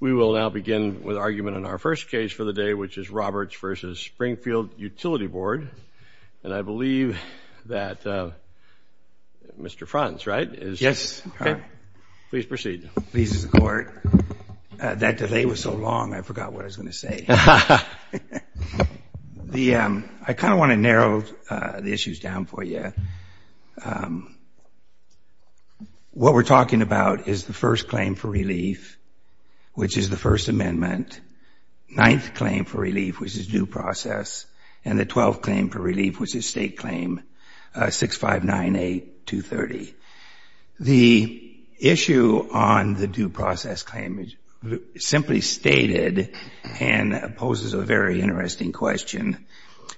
We will now begin with argument in our first case for the day, which is Roberts v. Springfield Utility Board. And I believe that Mr. Franz, right? Yes. Please proceed. Please, Mr. Court. That delay was so long, I forgot what I was going to say. I kind of want to narrow the is the First Amendment, Ninth Claim for Relief, which is due process, and the Twelfth Claim for Relief, which is State Claim, 6598-230. The issue on the due process claim is simply stated and poses a very interesting question.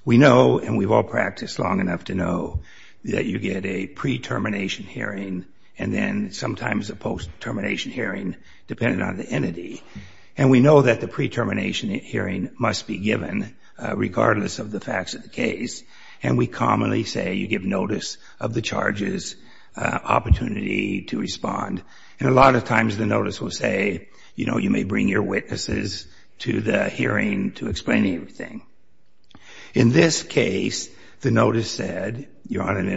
We know, and we've all practiced long enough to know, that you get a pre-termination hearing and then sometimes a post-termination hearing depending on the entity. And we know that the pre-termination hearing must be given regardless of the facts of the case. And we commonly say you give notice of the charges, opportunity to respond. And a lot of times the notice will say, you know, you may bring your witnesses to the hearing to explain everything. In this case, the notice said, you're on and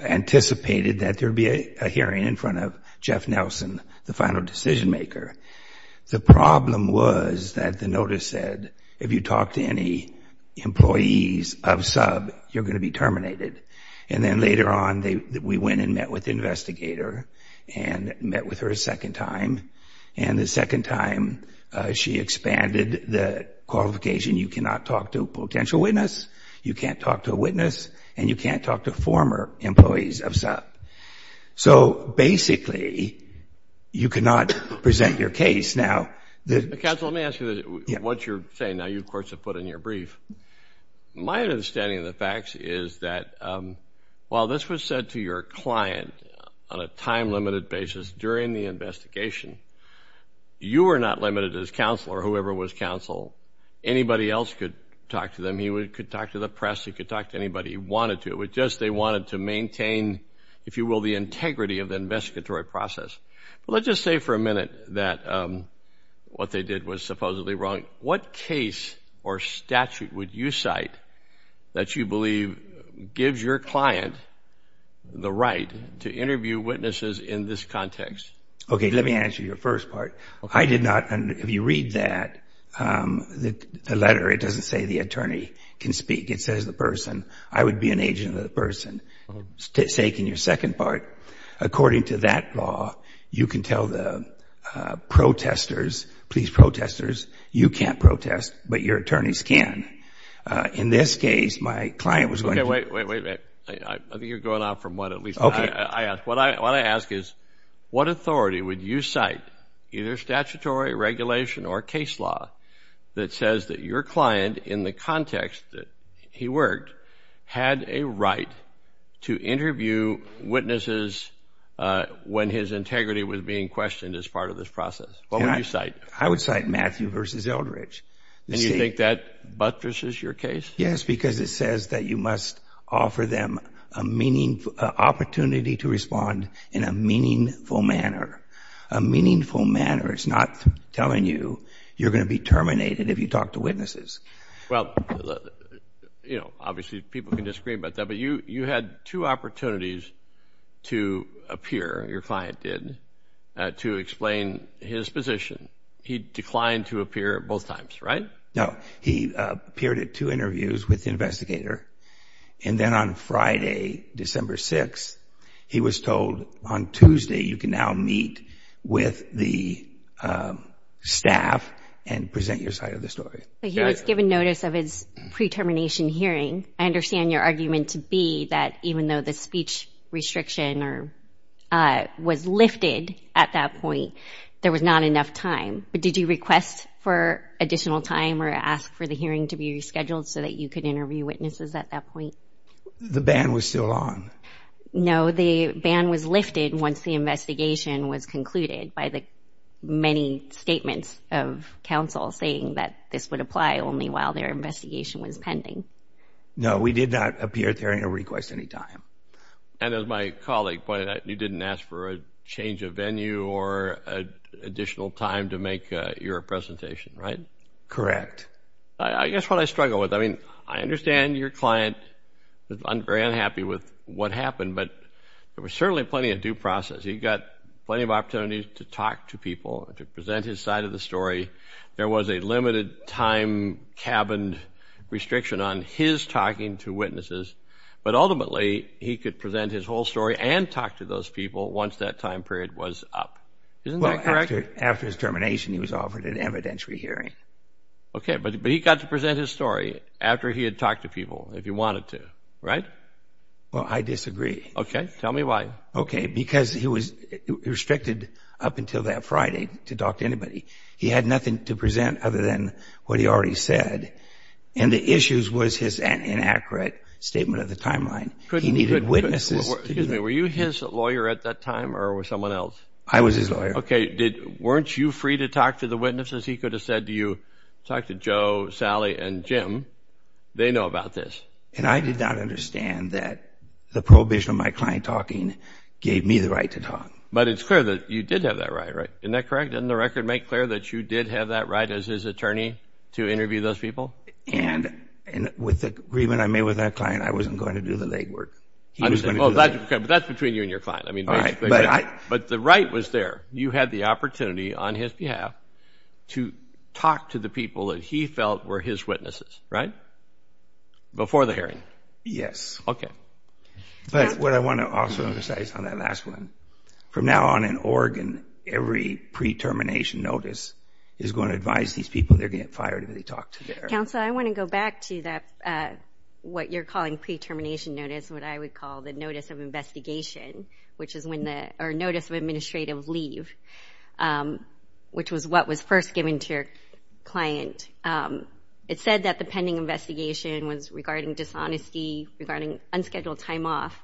anticipated that there'd be a hearing in front of Jeff Nelson, the final decision maker. The problem was that the notice said, if you talk to any employees of sub, you're going to be terminated. And then later on, we went and met with the investigator and met with her a second time. And the second time she expanded the qualification, you cannot talk to a potential witness, you can't talk to a witness, and you can't talk to former employees of sub. So basically, you cannot present your case now. Counsel, let me ask you what you're saying. Now, you of course have put in your brief. My understanding of the facts is that while this was said to your client on a time-limited basis during the investigation, you were not limited as counsel or whoever was counsel. Anybody else could talk to them. He could talk to the press, he could talk to anybody he wanted to. It was just they wanted to maintain, if you will, the integrity of the investigatory process. But let's just say for a minute that what they did was supposedly wrong. What case or statute would you cite that you believe gives your client the right to interview witnesses in this context? Okay, let me answer your first part. I did not, if you read that, the letter, it doesn't say the attorney can speak. It says the person, I would be an agent of the person. Taking your second part, according to that law, you can tell the protestors, police protestors, you can't protest, but your attorneys can. In this case, my client was going to... Okay, wait, wait, wait. I think you're going off from what at least I asked. What I ask is what authority would you cite, either statutory, regulation, or case law, that says that your client, in the context that he worked, had a right to interview witnesses when his integrity was being questioned as part of this process? What would you cite? I would cite Matthew v. Eldridge. And you think that buttresses your case? Yes, because it says that you must offer them an opportunity to respond in a meaningful manner. A meaningful manner. It's not telling you you're going to be terminated if you talk to witnesses. Well, obviously people can disagree about that, but you had two opportunities to appear, your client did, to explain his position. He declined to appear both times, right? No. He appeared at two interviews with the investigator, and then on Friday, December 6th, he was told, on Tuesday, you can now meet with the staff and present your side of the story. So he was given notice of his pre-termination hearing. I understand your argument to be that even though the speech restriction was lifted at that point, there was not enough time. But did you request for additional time or ask for the hearing to be rescheduled so that you could interview witnesses at that point? The ban was still on. No, the ban was lifted once the investigation was concluded by the many statements of counsel saying that this would apply only while their investigation was pending. No, we did not appear at the hearing or request any time. And as my colleague pointed out, you didn't ask for a change of venue or additional time to make your presentation, right? Correct. I guess what I struggle with, I mean, I understand your client was very unhappy with what happened, but there was certainly plenty of due process. He got plenty of opportunities to talk to people and to present his side of the story. There was a limited time cabined restriction on his talking to witnesses, but ultimately he could present his whole story and talk to those people once that time period was up. Isn't that correct? After his termination, he was offered an evidentiary hearing. Okay, but he got to present his story after he had talked to people if he wanted to, right? Well, I disagree. Okay, tell me why. Okay, because he was restricted up until that Friday to talk to anybody. He had nothing to present other than what he already said, and the issues was his inaccurate statement of the timeline. He needed witnesses. Excuse me, were you his lawyer at that time or was someone else? I was his lawyer. Okay, weren't you free to talk to the witnesses? He could have said, do you talk to Joe, Sally, and Jim. They know about this. And I did not understand that the prohibition of my client talking gave me the right to talk. But it's clear that you did have that right, right? Isn't that correct? Doesn't the record make clear that you did have that right as his attorney to interview those people? And with the agreement I made with that client, I wasn't going to do the legwork. Okay, but that's between you and your client. But the right was there. You had the opportunity on his behalf to talk to the people that he felt were his witnesses, right? Before the hearing. Yes. Okay. But what I want to also emphasize on that last one, from now on in Oregon, every pre-termination notice is going to advise these people they're going to get fired if they talk to their... Counsel, I want to go back to that, what you're calling pre-termination notice, what I would call the notice of investigation, which is when the, or notice of administrative leave, which was what was first given to your client. It said that the pending investigation was regarding dishonesty, regarding unscheduled time off.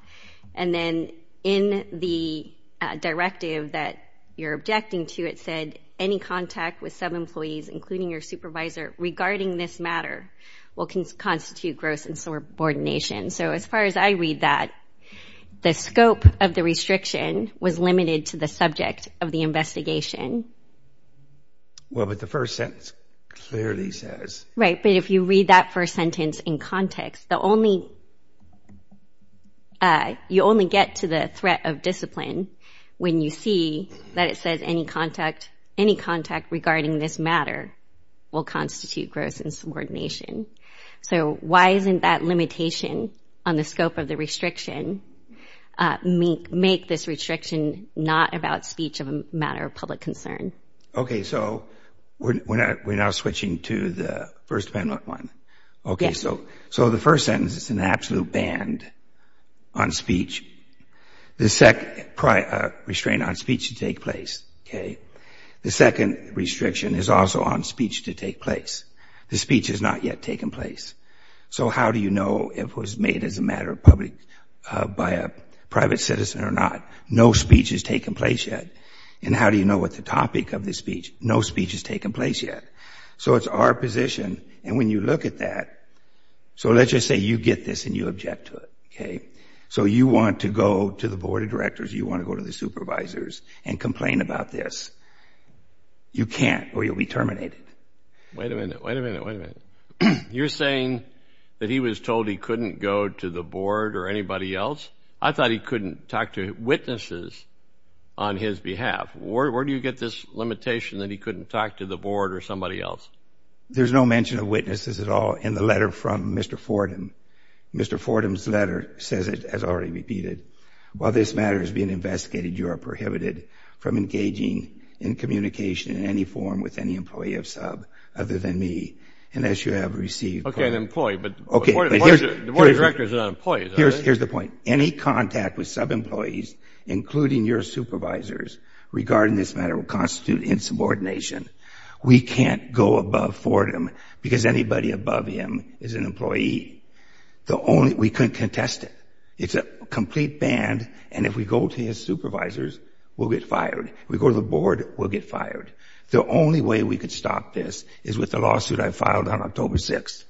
And then in the directive that you're objecting to, it said any contact with sub-employees, including your supervisor regarding this matter will constitute gross insubordination. So as far as I read that, the scope of the restriction was limited to the subject of the investigation. Well, but the first sentence clearly says... Right, but if you read that first sentence in context, the only... You only get to the threat of discipline when you see that it says any contact, any contact regarding this matter will constitute gross insubordination. So why isn't that limitation on the scope of the restriction make this restriction not about speech of a matter of public concern? Okay, so we're now switching to the first penalty. Okay, so the first sentence is an absolute ban on speech. The second, restraint on speech to take place, okay. The second restriction is also on speech to take place. The speech has not yet taken place. So how do you know if it was made as a matter of public, by a private citizen or not? No speech has taken place yet. And how do you know what the topic of the speech? No speech has taken place yet. So it's our position, and when you look at that... So let's just say you get this and you object to it, okay. So you want to go to the board of directors, you want to go to the supervisors and complain about this. You can't or you'll be terminated. Wait a minute, wait a minute, wait a minute. You're saying that he was told he couldn't go to the board or anybody else? I thought he couldn't talk to witnesses on his behalf. Where do you get this limitation that he couldn't talk to the board or somebody else? There's no mention of witnesses at all in the letter from Mr. Fordham. Mr. Fordham's letter says it as already repeated. While this matter is being investigated, you are prohibited from engaging in communication in any form with any employee of SUB other than me. And the board of directors are not employees, are they? Here's the point. Any contact with sub-employees, including your supervisors, regarding this matter will constitute insubordination. We can't go above Fordham because anybody above him is an employee. We couldn't contest it. It's a complete ban, and if we go to his supervisors, we'll get fired. If we go to the board, we'll get fired. The only way we could stop this is with the lawsuit I filed on October 6th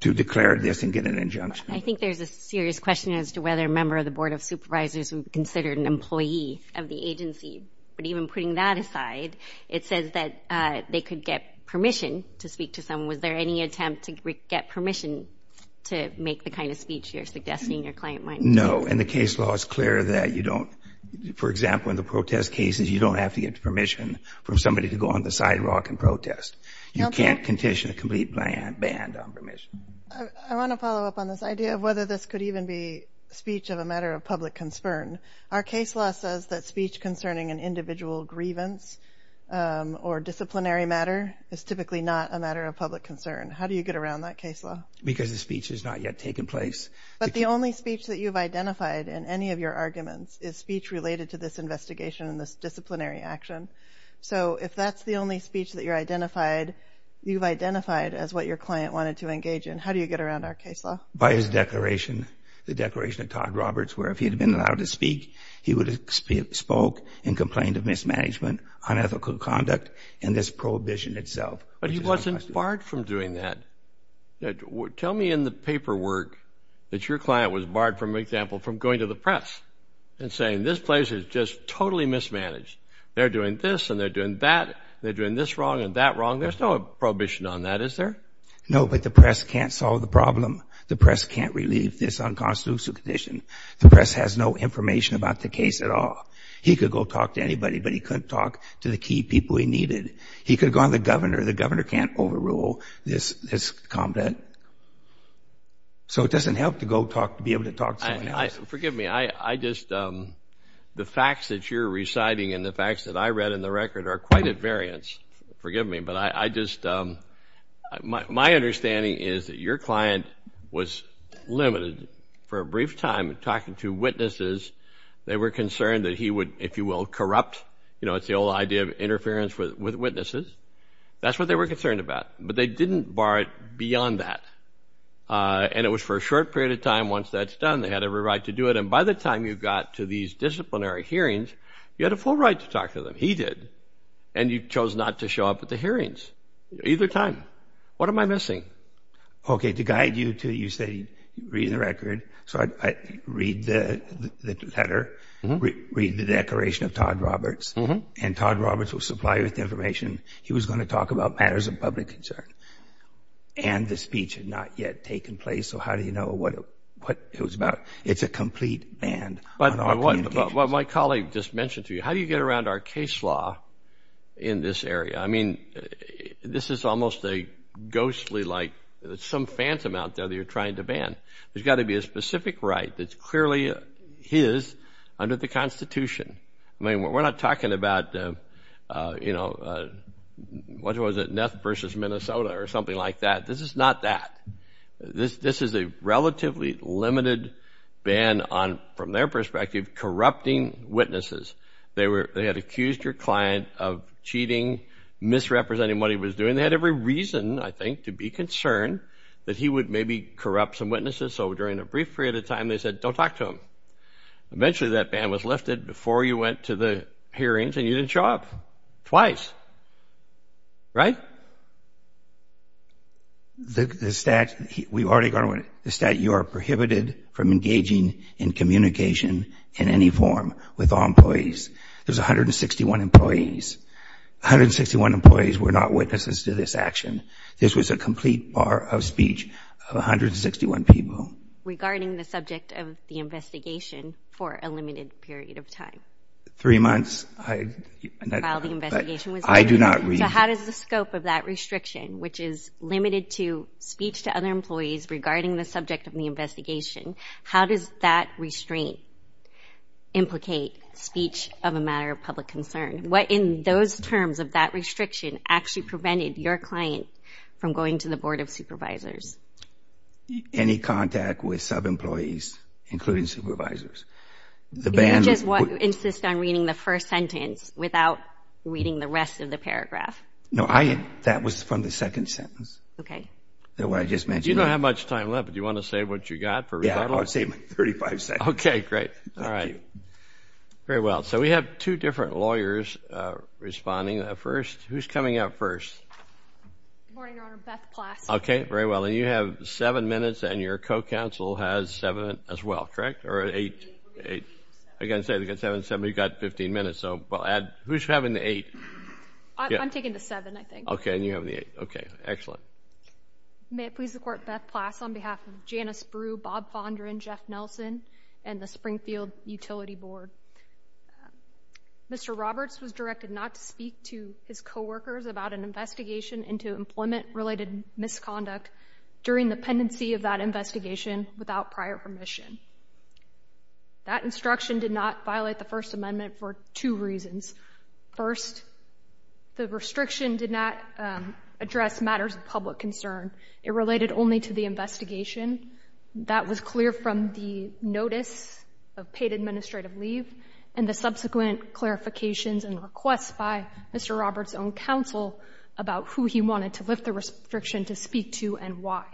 to declare this and get an injunction. I think there's a serious question as to whether a member of the board of supervisors would be considered an employee of the agency. But even putting that aside, it says that they could get permission to speak to someone. Was there any attempt to get permission to make the kind of speech you're suggesting your client might make? No, and the case law is clear that you don't, for example, in the protest cases, you don't have to get permission from somebody to go on the sidewalk and protest. You can't condition a complete ban on permission. I want to follow up on this idea of whether this could even be speech of a matter of public concern. Our case law says that speech concerning an individual grievance or disciplinary matter is typically not a matter of public concern. How do you get around that case law? Because the speech has not yet taken place. But the only speech that you've identified in any of your arguments is speech related to this identified as what your client wanted to engage in. How do you get around our case law? By his declaration, the declaration of Todd Roberts, where if he had been allowed to speak, he would have spoke and complained of mismanagement, unethical conduct, and this prohibition itself. But he wasn't barred from doing that. Tell me in the paperwork that your client was barred, for example, from going to the press and saying, this place is just totally mismanaged. They're doing this and they're doing that. They're doing this wrong and that wrong. There's no prohibition on that, is there? No, but the press can't solve the problem. The press can't relieve this unconstitutional condition. The press has no information about the case at all. He could go talk to anybody, but he couldn't talk to the key people he needed. He could go on the governor. The governor can't overrule this, this conduct. So it doesn't help to go talk, to be able to talk to someone else. Forgive me. I just, um, the facts that you're reciting and the facts that I read in the record are quite at variance. Forgive me, but I just, um, my understanding is that your client was limited for a brief time talking to witnesses. They were concerned that he would, if you will, corrupt. You know, it's the old idea of interference with witnesses. That's what they were concerned about. But they didn't bar it beyond that. And it was for a short period of time. Once that's done, they had every right to do it. And by the time you got to these disciplinary hearings, you had a full right to talk to them. He did. And you chose not to show up at the hearings. Either time. What am I missing? Okay, to guide you to, you say, read the record. So I read the letter, read the declaration of Todd Roberts, and Todd Roberts was supplier of the information. He was going to talk about matters of public concern. And the speech had not yet taken place. So how do you know what it was about? It's a complete ban. But what my colleague just mentioned to you, how do you get around our case law in this area? I mean, this is almost a ghostly, like some phantom out there that you're trying to ban. There's got to be a specific right that's clearly his under the Constitution. I mean, we're not talking about, uh, you know, uh, what was it? Neff versus Minnesota or something like that. This is not that. This, this is a relatively limited ban on, from their perspective, corrupting witnesses. They were, they had accused your client of cheating, misrepresenting what he was doing. They had every reason, I think, to be concerned that he would maybe corrupt some witnesses. So during a brief period of time, they said, don't talk to him. Eventually that ban was lifted before you went to the hearings and you didn't show up. Twice. Right? But the stat, we've already gone over it. The stat, you are prohibited from engaging in communication in any form with all employees. There's 161 employees. 161 employees were not witnesses to this action. This was a complete bar of speech of 161 people. Regarding the subject of the investigation for a limited period of time. Three months. I, I do not read. So how does the scope of that restriction, which is limited to speech to other employees regarding the subject of the investigation, how does that restraint implicate speech of a matter of public concern? What in those terms of that restriction actually prevented your client from going to the Board of Supervisors? Any contact with sub-employees, including supervisors. You just insist on reading the first sentence without reading the rest of the paragraph. No, I, that was from the second sentence. Okay. That what I just mentioned. You don't have much time left. Do you want to save what you got for rebuttal? Yeah, I'll save my 35 seconds. Okay, great. All right. Very well. So we have two different lawyers responding. First, who's coming out first? Good morning, Your Honor. Beth Plass. Okay, very well. And you have seven minutes and your co-counsel has seven as well, correct? Or eight? Eight. Again, seven, seven. You've got 15 minutes, so we'll add. Who's having the eight? I'm taking the seven, I think. Okay, and you're having the eight. Okay, excellent. May it please the Court, Beth Plass on behalf of Jana Spru, Bob Fondren, Jeff Nelson, and the Springfield Utility Board. Mr. Roberts was directed not to speak to his coworkers about an investigation into employment-related misconduct during the pendency of that investigation without prior permission. That instruction did not violate the First Amendment for two reasons. First, the restriction did not address matters of public concern. It related only to the investigation. That was clear from the notice of paid administrative leave and the subsequent clarifications and requests by Mr. Roberts' own counsel about who he wanted to lift the restriction to speak to and why.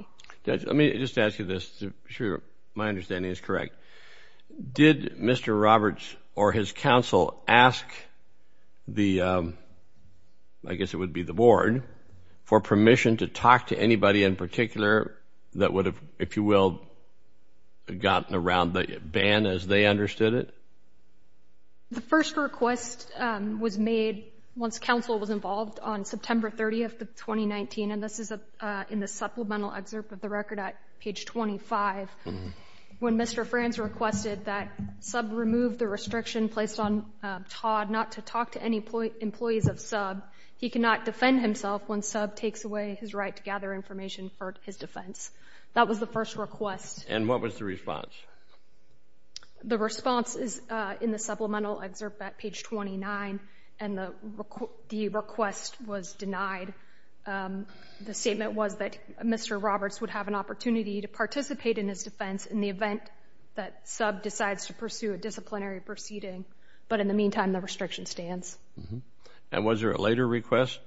Judge, let me just ask you this to make sure my understanding is correct. Did Mr. Roberts or his counsel ask the, I guess it would be the Board, for permission to talk to anybody in particular that would have, if you will, gotten around the ban as they understood it? The first request was made once counsel was involved on September 30th of 2019, and this is in the supplemental excerpt of the record at page 25, when Mr. Franz requested that Subb remove the restriction placed on Todd not to talk to any employees of Subb, he cannot defend himself when Subb takes away his right to gather information for his defense. That was the first request. And what was the response? The response is in the supplemental excerpt at page 29, and the request was denied. The statement was that Mr. Roberts would have an opportunity to participate in his defense in the event that Subb decides to pursue a disciplinary proceeding. But in the meantime, the restriction stands. And was there a later request?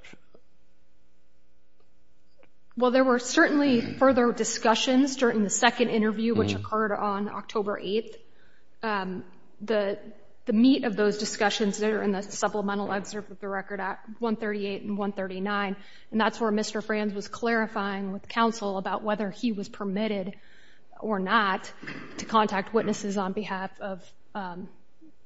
Well, there were certainly further discussions during the second interview, which occurred on October 8th. The meat of those discussions are in the supplemental excerpt of the record at 138 and 139, and that's where Mr. Franz was clarifying with counsel about whether he was permitted or not to contact witnesses on behalf of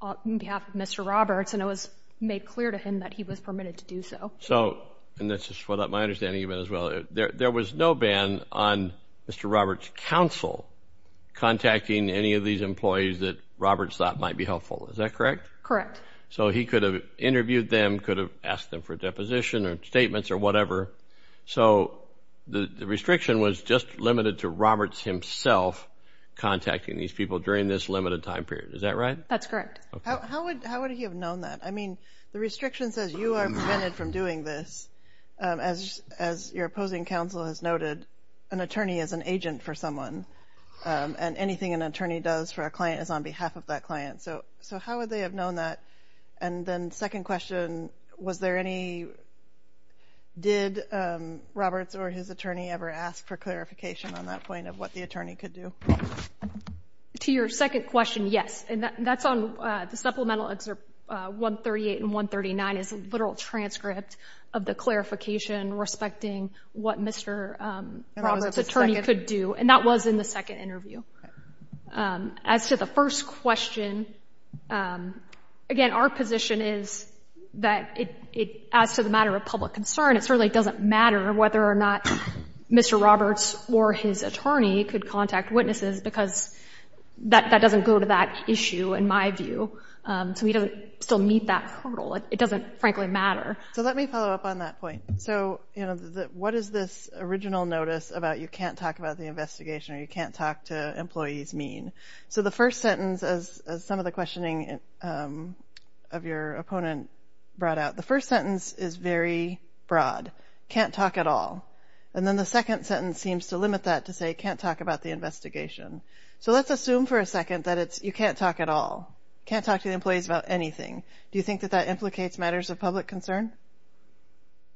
Mr. Roberts, and it was made clear to him that he was permitted to do so. So, and this is my understanding of it as well, there was no ban on Mr. Roberts' counsel contacting any of these employees that Roberts thought might be helpful. Is that correct? Correct. So he could have interviewed them, could have asked them for a deposition or statements or whatever. So the restriction was just limited to Roberts himself contacting these people during this limited time period. Is that right? That's correct. How would he have known that? I mean, the restriction says you are prevented from doing this. As your opposing counsel has noted, an attorney is an agent for someone, and anything an attorney does for a client is on behalf of that client. So how would they have known that? And then second question, was there any, did Roberts or his attorney ever ask for clarification on that point of what the attorney could do? To your second question, yes. And that's on the supplemental excerpt 138 and 139 is a literal transcript of the clarification respecting what Mr. Roberts' attorney could do, and that was in the second interview. As to the first question, again, our position is that as to the matter of public concern, it certainly doesn't matter whether or not Mr. Roberts or his attorney could contact witnesses because that doesn't go to that issue, in my view. So we don't still meet that hurdle. It doesn't, frankly, matter. So let me follow up on that point. So, you know, what is this original notice about you can't talk about the investigation or you can't talk to employees mean? So the first sentence, as some of the questioning of your opponent brought out, the first sentence is very broad, can't talk at all. And then the second sentence seems to limit that to say can't talk about the investigation. So let's assume for a second that it's you can't talk at all, can't talk to the employees about anything. Do you think that that implicates matters of public concern?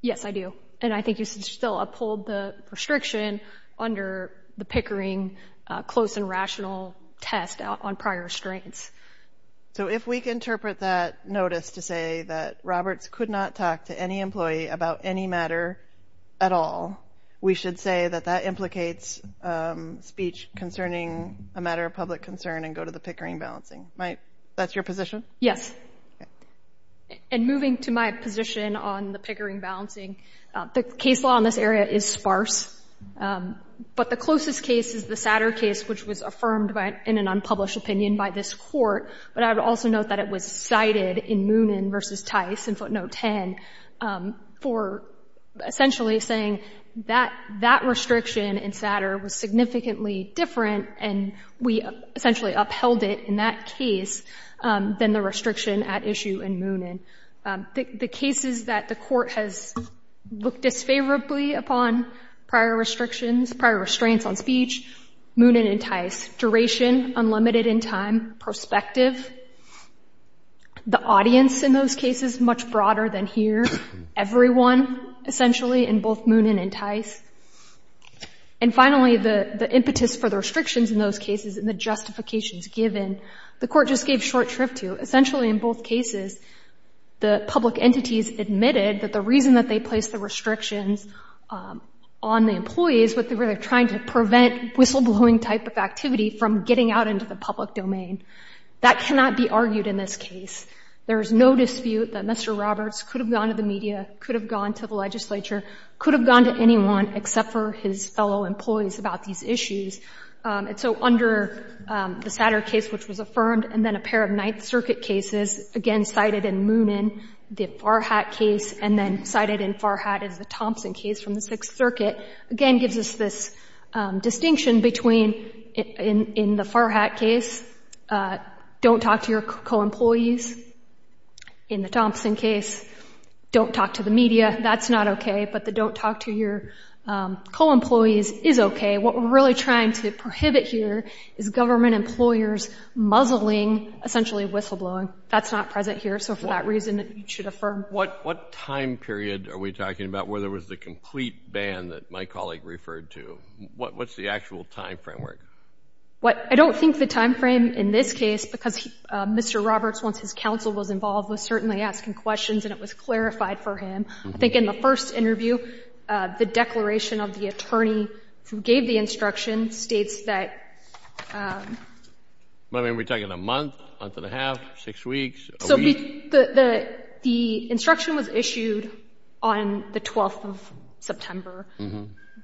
Yes, I do. And I think you should still uphold the restriction under the Pickering close and rational test on prior restraints. So if we can interpret that notice to say that Roberts could not talk to any employee about any matter at all, we should say that that implicates speech concerning a matter of public concern and go to the Pickering balancing. That's your position? Yes. And moving to my position on the Pickering balancing, the case law in this area is sparse. But the closest case is the Satter case, which was affirmed in an unpublished opinion by this court. But I would also note that it was cited in Moonen v. Tice in footnote 10 for essentially saying that that restriction in Satter was significantly different and we essentially upheld it in that case than the restriction at issue in Moonen. The cases that the court has looked disfavorably upon prior restrictions, prior restraints on speech, Moonen and Tice, duration unlimited in time, perspective, the audience in those cases much broader than here, everyone essentially in both Moonen and Tice. And finally, the impetus for the restrictions in those cases and the justifications given, the court just gave short shrift to. Essentially in both cases, the public entities admitted that the reason that they placed the restrictions on the employees was that they were trying to prevent whistleblowing type of activity from getting out into the public domain. That cannot be argued in this case. There is no dispute that Mr. Roberts could have gone to the media, could have gone to the legislature, could have gone to anyone except for his fellow employees about these issues. And so under the Satter case, which was affirmed, and then a pair of circuit cases, again cited in Moonen, the Farhat case, and then cited in Farhat is the Thompson case from the Sixth Circuit, again gives us this distinction between in the Farhat case, don't talk to your co-employees. In the Thompson case, don't talk to the media. That's not okay, but the don't talk to your co-employees is okay. What we're really trying to prohibit here is government employers muzzling, essentially whistleblowing. That's not present here, so for that reason, it should affirm. What time period are we talking about where there was the complete ban that my colleague referred to? What's the actual time framework? I don't think the time frame in this case, because Mr. Roberts, once his counsel was involved, was certainly asking questions and it was clarified for him. I think in the first interview, the declaration of the attorney who gave the instruction states that... I mean, are we talking a month, a month and a half, six weeks, a week? So the instruction was issued on the 12th of September.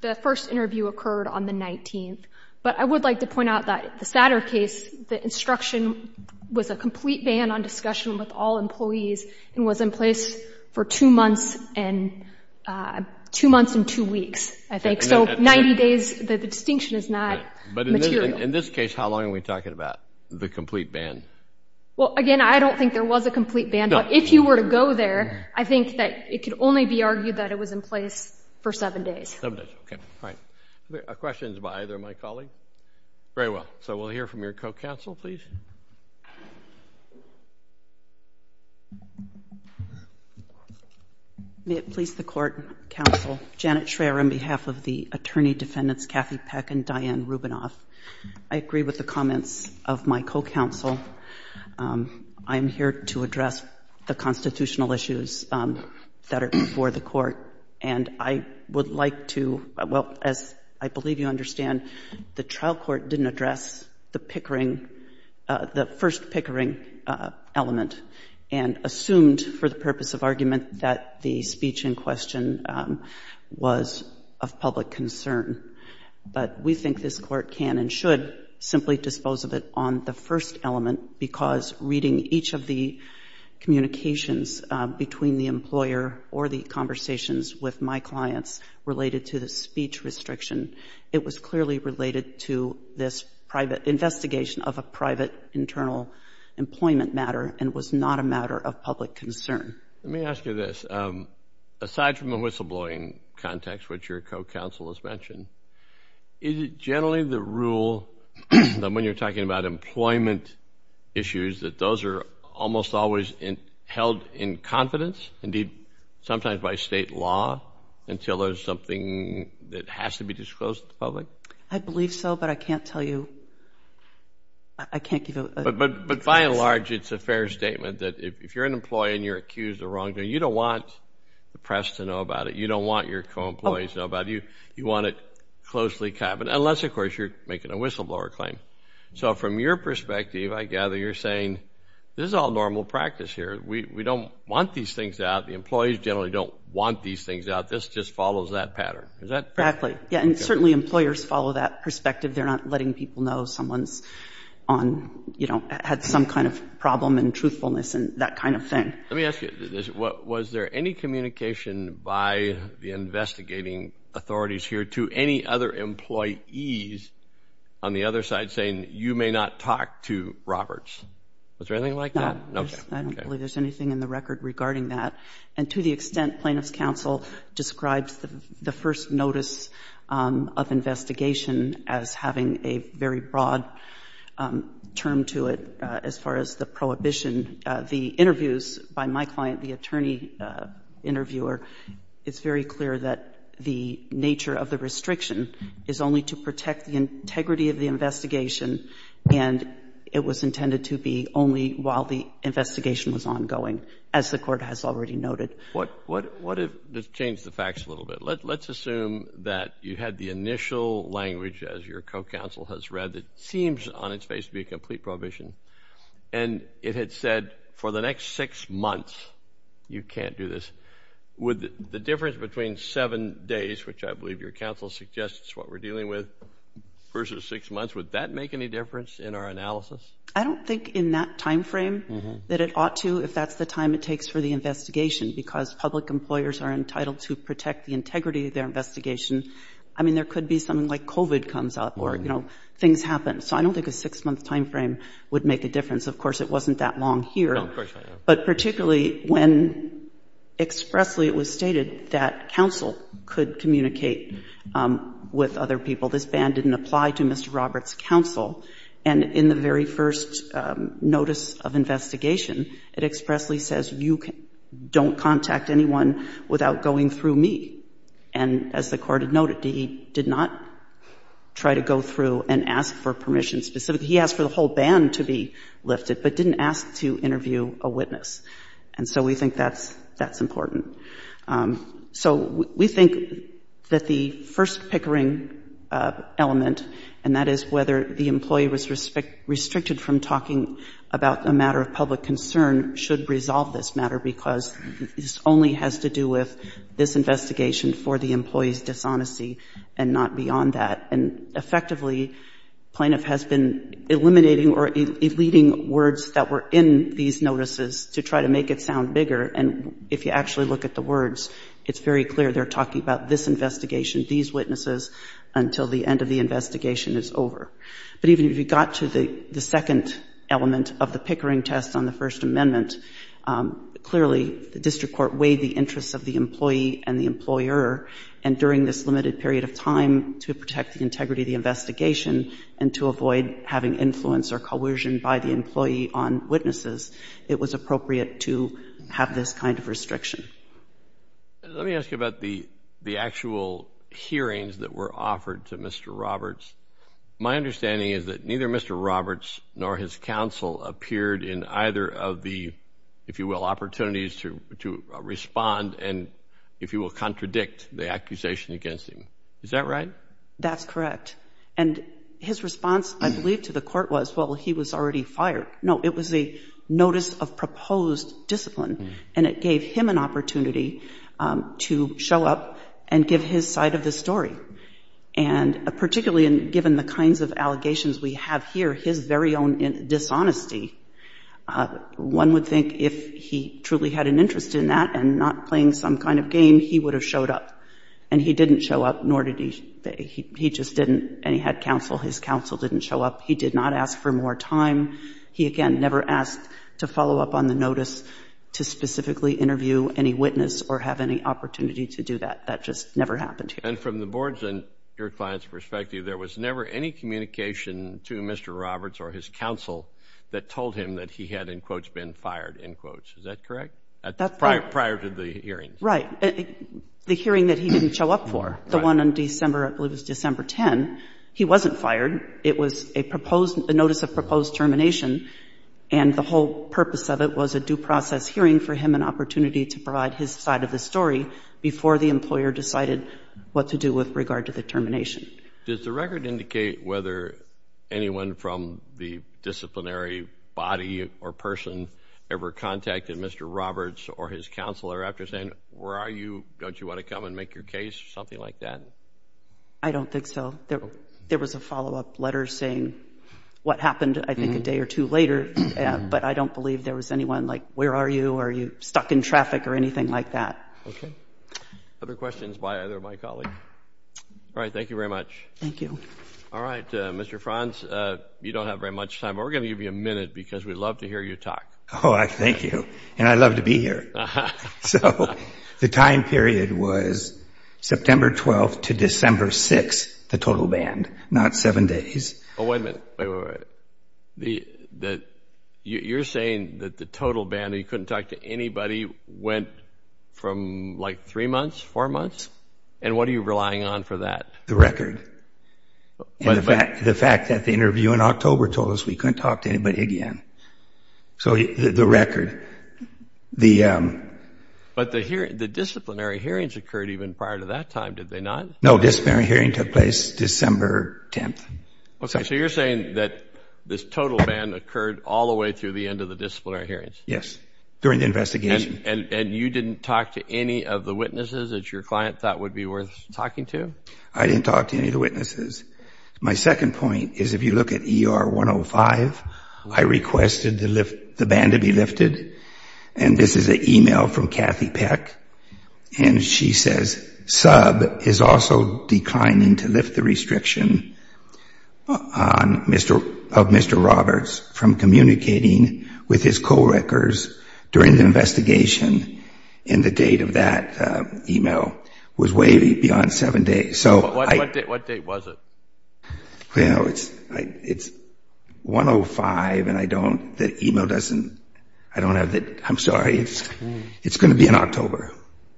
The first interview occurred on the 19th, but I would like to point out that the Satter case, the instruction was a complete ban on discussion with all employees and was in place for two months and two weeks, I think. So 90 days, the distinction is not material. But in this case, how long are we talking about the complete ban? Well, again, I don't think there was a complete ban, but if you were to go there, I think that it could only be argued that it was in place for seven days. Seven days, okay. All right. Questions by either of my colleagues? Very well. So we'll hear from your co-counsel, please. May it please the Court, counsel, Janet Schreyer on behalf of the attorney defendants Kathy Peck and Diane Rubinoff. I agree with the comments of my co-counsel. I'm here to address the constitutional issues that are before the Court, and I would like to, well, as I believe you understand, the trial court didn't address the first pickering element and assumed for the purpose of argument that the speech in question was of public concern. But we think this Court can and should simply dispose of it on the first element because reading each of the communications between the employer or the conversations with my clients related to the speech restriction, it was clearly related to this private investigation of a private internal employment matter and was not a matter of public concern. Let me ask you this. Aside from the whistleblowing context, which your co-counsel has mentioned, is it generally the rule that when you're talking about employment issues, that those are almost always held in confidence, indeed sometimes by state law, until there's something that has to be disclosed to the public? I believe so, but I can't tell you. I can't give you a... But by and large, it's a fair statement that if you're an employee and you're accused of wrongdoing, you don't want the press to know about it. You don't want your co-employees to know about it. You want it closely covered, unless, of course, you're making a whistleblower claim. So from your perspective, I gather you're saying this is all normal practice here. We don't want these things out. The employees generally don't want these things out. This just follows that pattern. Is that correct? Exactly. Yeah, and certainly employers follow that perspective. They're not letting people know someone's on, you know, had some kind of problem and truthfulness and that kind of thing. Let me ask you this. Was there any communication by the investigating authorities here to any other employees on the other side saying you may not talk to Roberts? Was there anything like that? No. I don't believe there's anything in the record regarding that. And to the extent plaintiff's counsel describes the first notice of investigation as having a very broad term to it as far as the prohibition, the interviews by my client, the attorney interviewer, it's very clear that the nature of the restriction is only to protect the integrity of the investigation, and it was intended to be only while the investigation was ongoing, as the Court has already noted. Let's change the facts a little bit. Let's assume that you had the initial language, as your co-counsel has read, that seems on its face to be a complete prohibition, and it had said for the next six months you can't do this. Would the difference between seven days, which I believe your counsel suggests is what we're dealing with, versus six months, would that make any difference in our analysis? I don't think in that time frame that it ought to, if that's the time it takes for the investigation, because public employers are entitled to protect the integrity of their investigation. I mean, there could be something like COVID comes up or, you know, things happen. So I don't think a six-month time frame would make a difference. Of course, it wasn't that long here. But particularly when expressly it was stated that counsel could communicate with other people, this ban didn't apply to Mr. Roberts' counsel. And in the very first notice of investigation, it expressly says you don't contact anyone without going through me. And as the Court had noted, he did not try to go through and ask for permission specifically, he asked for the whole ban to be lifted, but didn't ask to interview a witness. And so we think that's important. So we think that the first pickering element, and that is whether the employee was restricted from talking about a matter of public concern, should resolve this matter because this only has to do with this investigation for the employee's dishonesty and not beyond that. And effectively, plaintiff has been eliminating or eluding words that were in these notices to try to make it sound bigger. And if you actually look at the words, it's very clear they're talking about this investigation, these witnesses, until the end of the investigation is over. But even if you got to the second element of the pickering test on the First Amendment, clearly the district court weighed the interests of the employee and the employer, and during this limited period of time to protect the integrity of the investigation and to avoid having influence or coercion by the employee on witnesses, it was appropriate to have this kind of restriction. Let me ask you about the actual hearings that were offered to Mr. Roberts. My understanding is that neither Mr. Roberts nor his counsel appeared in either of the, if you will, opportunities to respond and, if you will, contradict the accusation against him. Is that right? That's correct. And his response, I believe, to the court was, well, he was already fired. No, it was a notice of proposed discipline, and it gave him an opportunity to show up and give his side of the story. And particularly given the kinds of allegations we have here, his very own dishonesty, one would think if he truly had an interest in that and not playing some kind of game, he would have showed up. And he didn't show up, nor did he. He just didn't. And he had counsel. His counsel didn't show up. He did not ask for more time. He, again, never asked to follow up on the notice to specifically interview any witness or have any opportunity to do that. That just never happened here. And from the board's and your client's perspective, there was never any communication to Mr. Roberts or his counsel that told him that he had, in quotes, been fired, in quotes. Is that correct? Prior to the hearing. Right. The hearing that he didn't show up for, the one on December 10, he wasn't fired. It was a notice of proposed termination, and the whole purpose of it was a due process hearing for him, an opportunity to provide his side of the story before the employer decided what to do with regard to the termination. Does the record indicate whether anyone from the disciplinary body or person ever contacted Mr. Roberts or his counsel after saying, where are you, don't you want to come and make your case, something like that? I don't think so. There was a follow-up letter saying what happened, I think, a day or two later. But I don't believe there was anyone like, where are you, are you stuck in traffic or anything like that. Okay. Other questions by either of my colleagues? All right, thank you very much. Thank you. All right, Mr. Franz, you don't have very much time, but we're going to give you a minute because we'd love to hear you talk. Oh, thank you, and I love to be here. So the time period was September 12 to December 6, the total band, not seven days. Oh, wait a minute, wait, wait, wait. You're saying that the total band, you couldn't talk to anybody, went from like three months, four months, and what are you relying on for that? The record. The fact that the interview in October told us we couldn't talk to anybody again. So the record. But the disciplinary hearings occurred even prior to that time, did they not? No, disciplinary hearing took place December 10. So you're saying that this total ban occurred all the way through the end of the disciplinary hearings? Yes, during the investigation. And you didn't talk to any of the witnesses that your client thought would be worth talking to? I didn't talk to any of the witnesses. My second point is if you look at ER 105, I requested the band to be lifted, and this is an email from Kathy Peck, and she says, this sub is also declining to lift the restriction of Mr. Roberts from communicating with his co-workers during the investigation, and the date of that email was way beyond seven days. What date was it? It's 105, and I don't, the email doesn't, I don't have the, I'm sorry, it's going to be in October.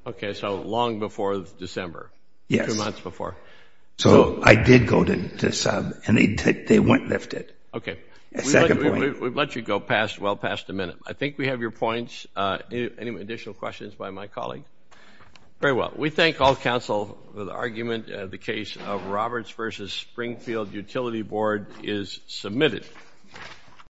Okay, so long before December. Yes. Two months before. So I did go to sub, and they went and lifted. Okay. Second point. We've let you go past, well past a minute. I think we have your points. Any additional questions by my colleague? Very well. We thank all counsel for the argument. The case of Roberts v. Springfield Utility Board is submitted.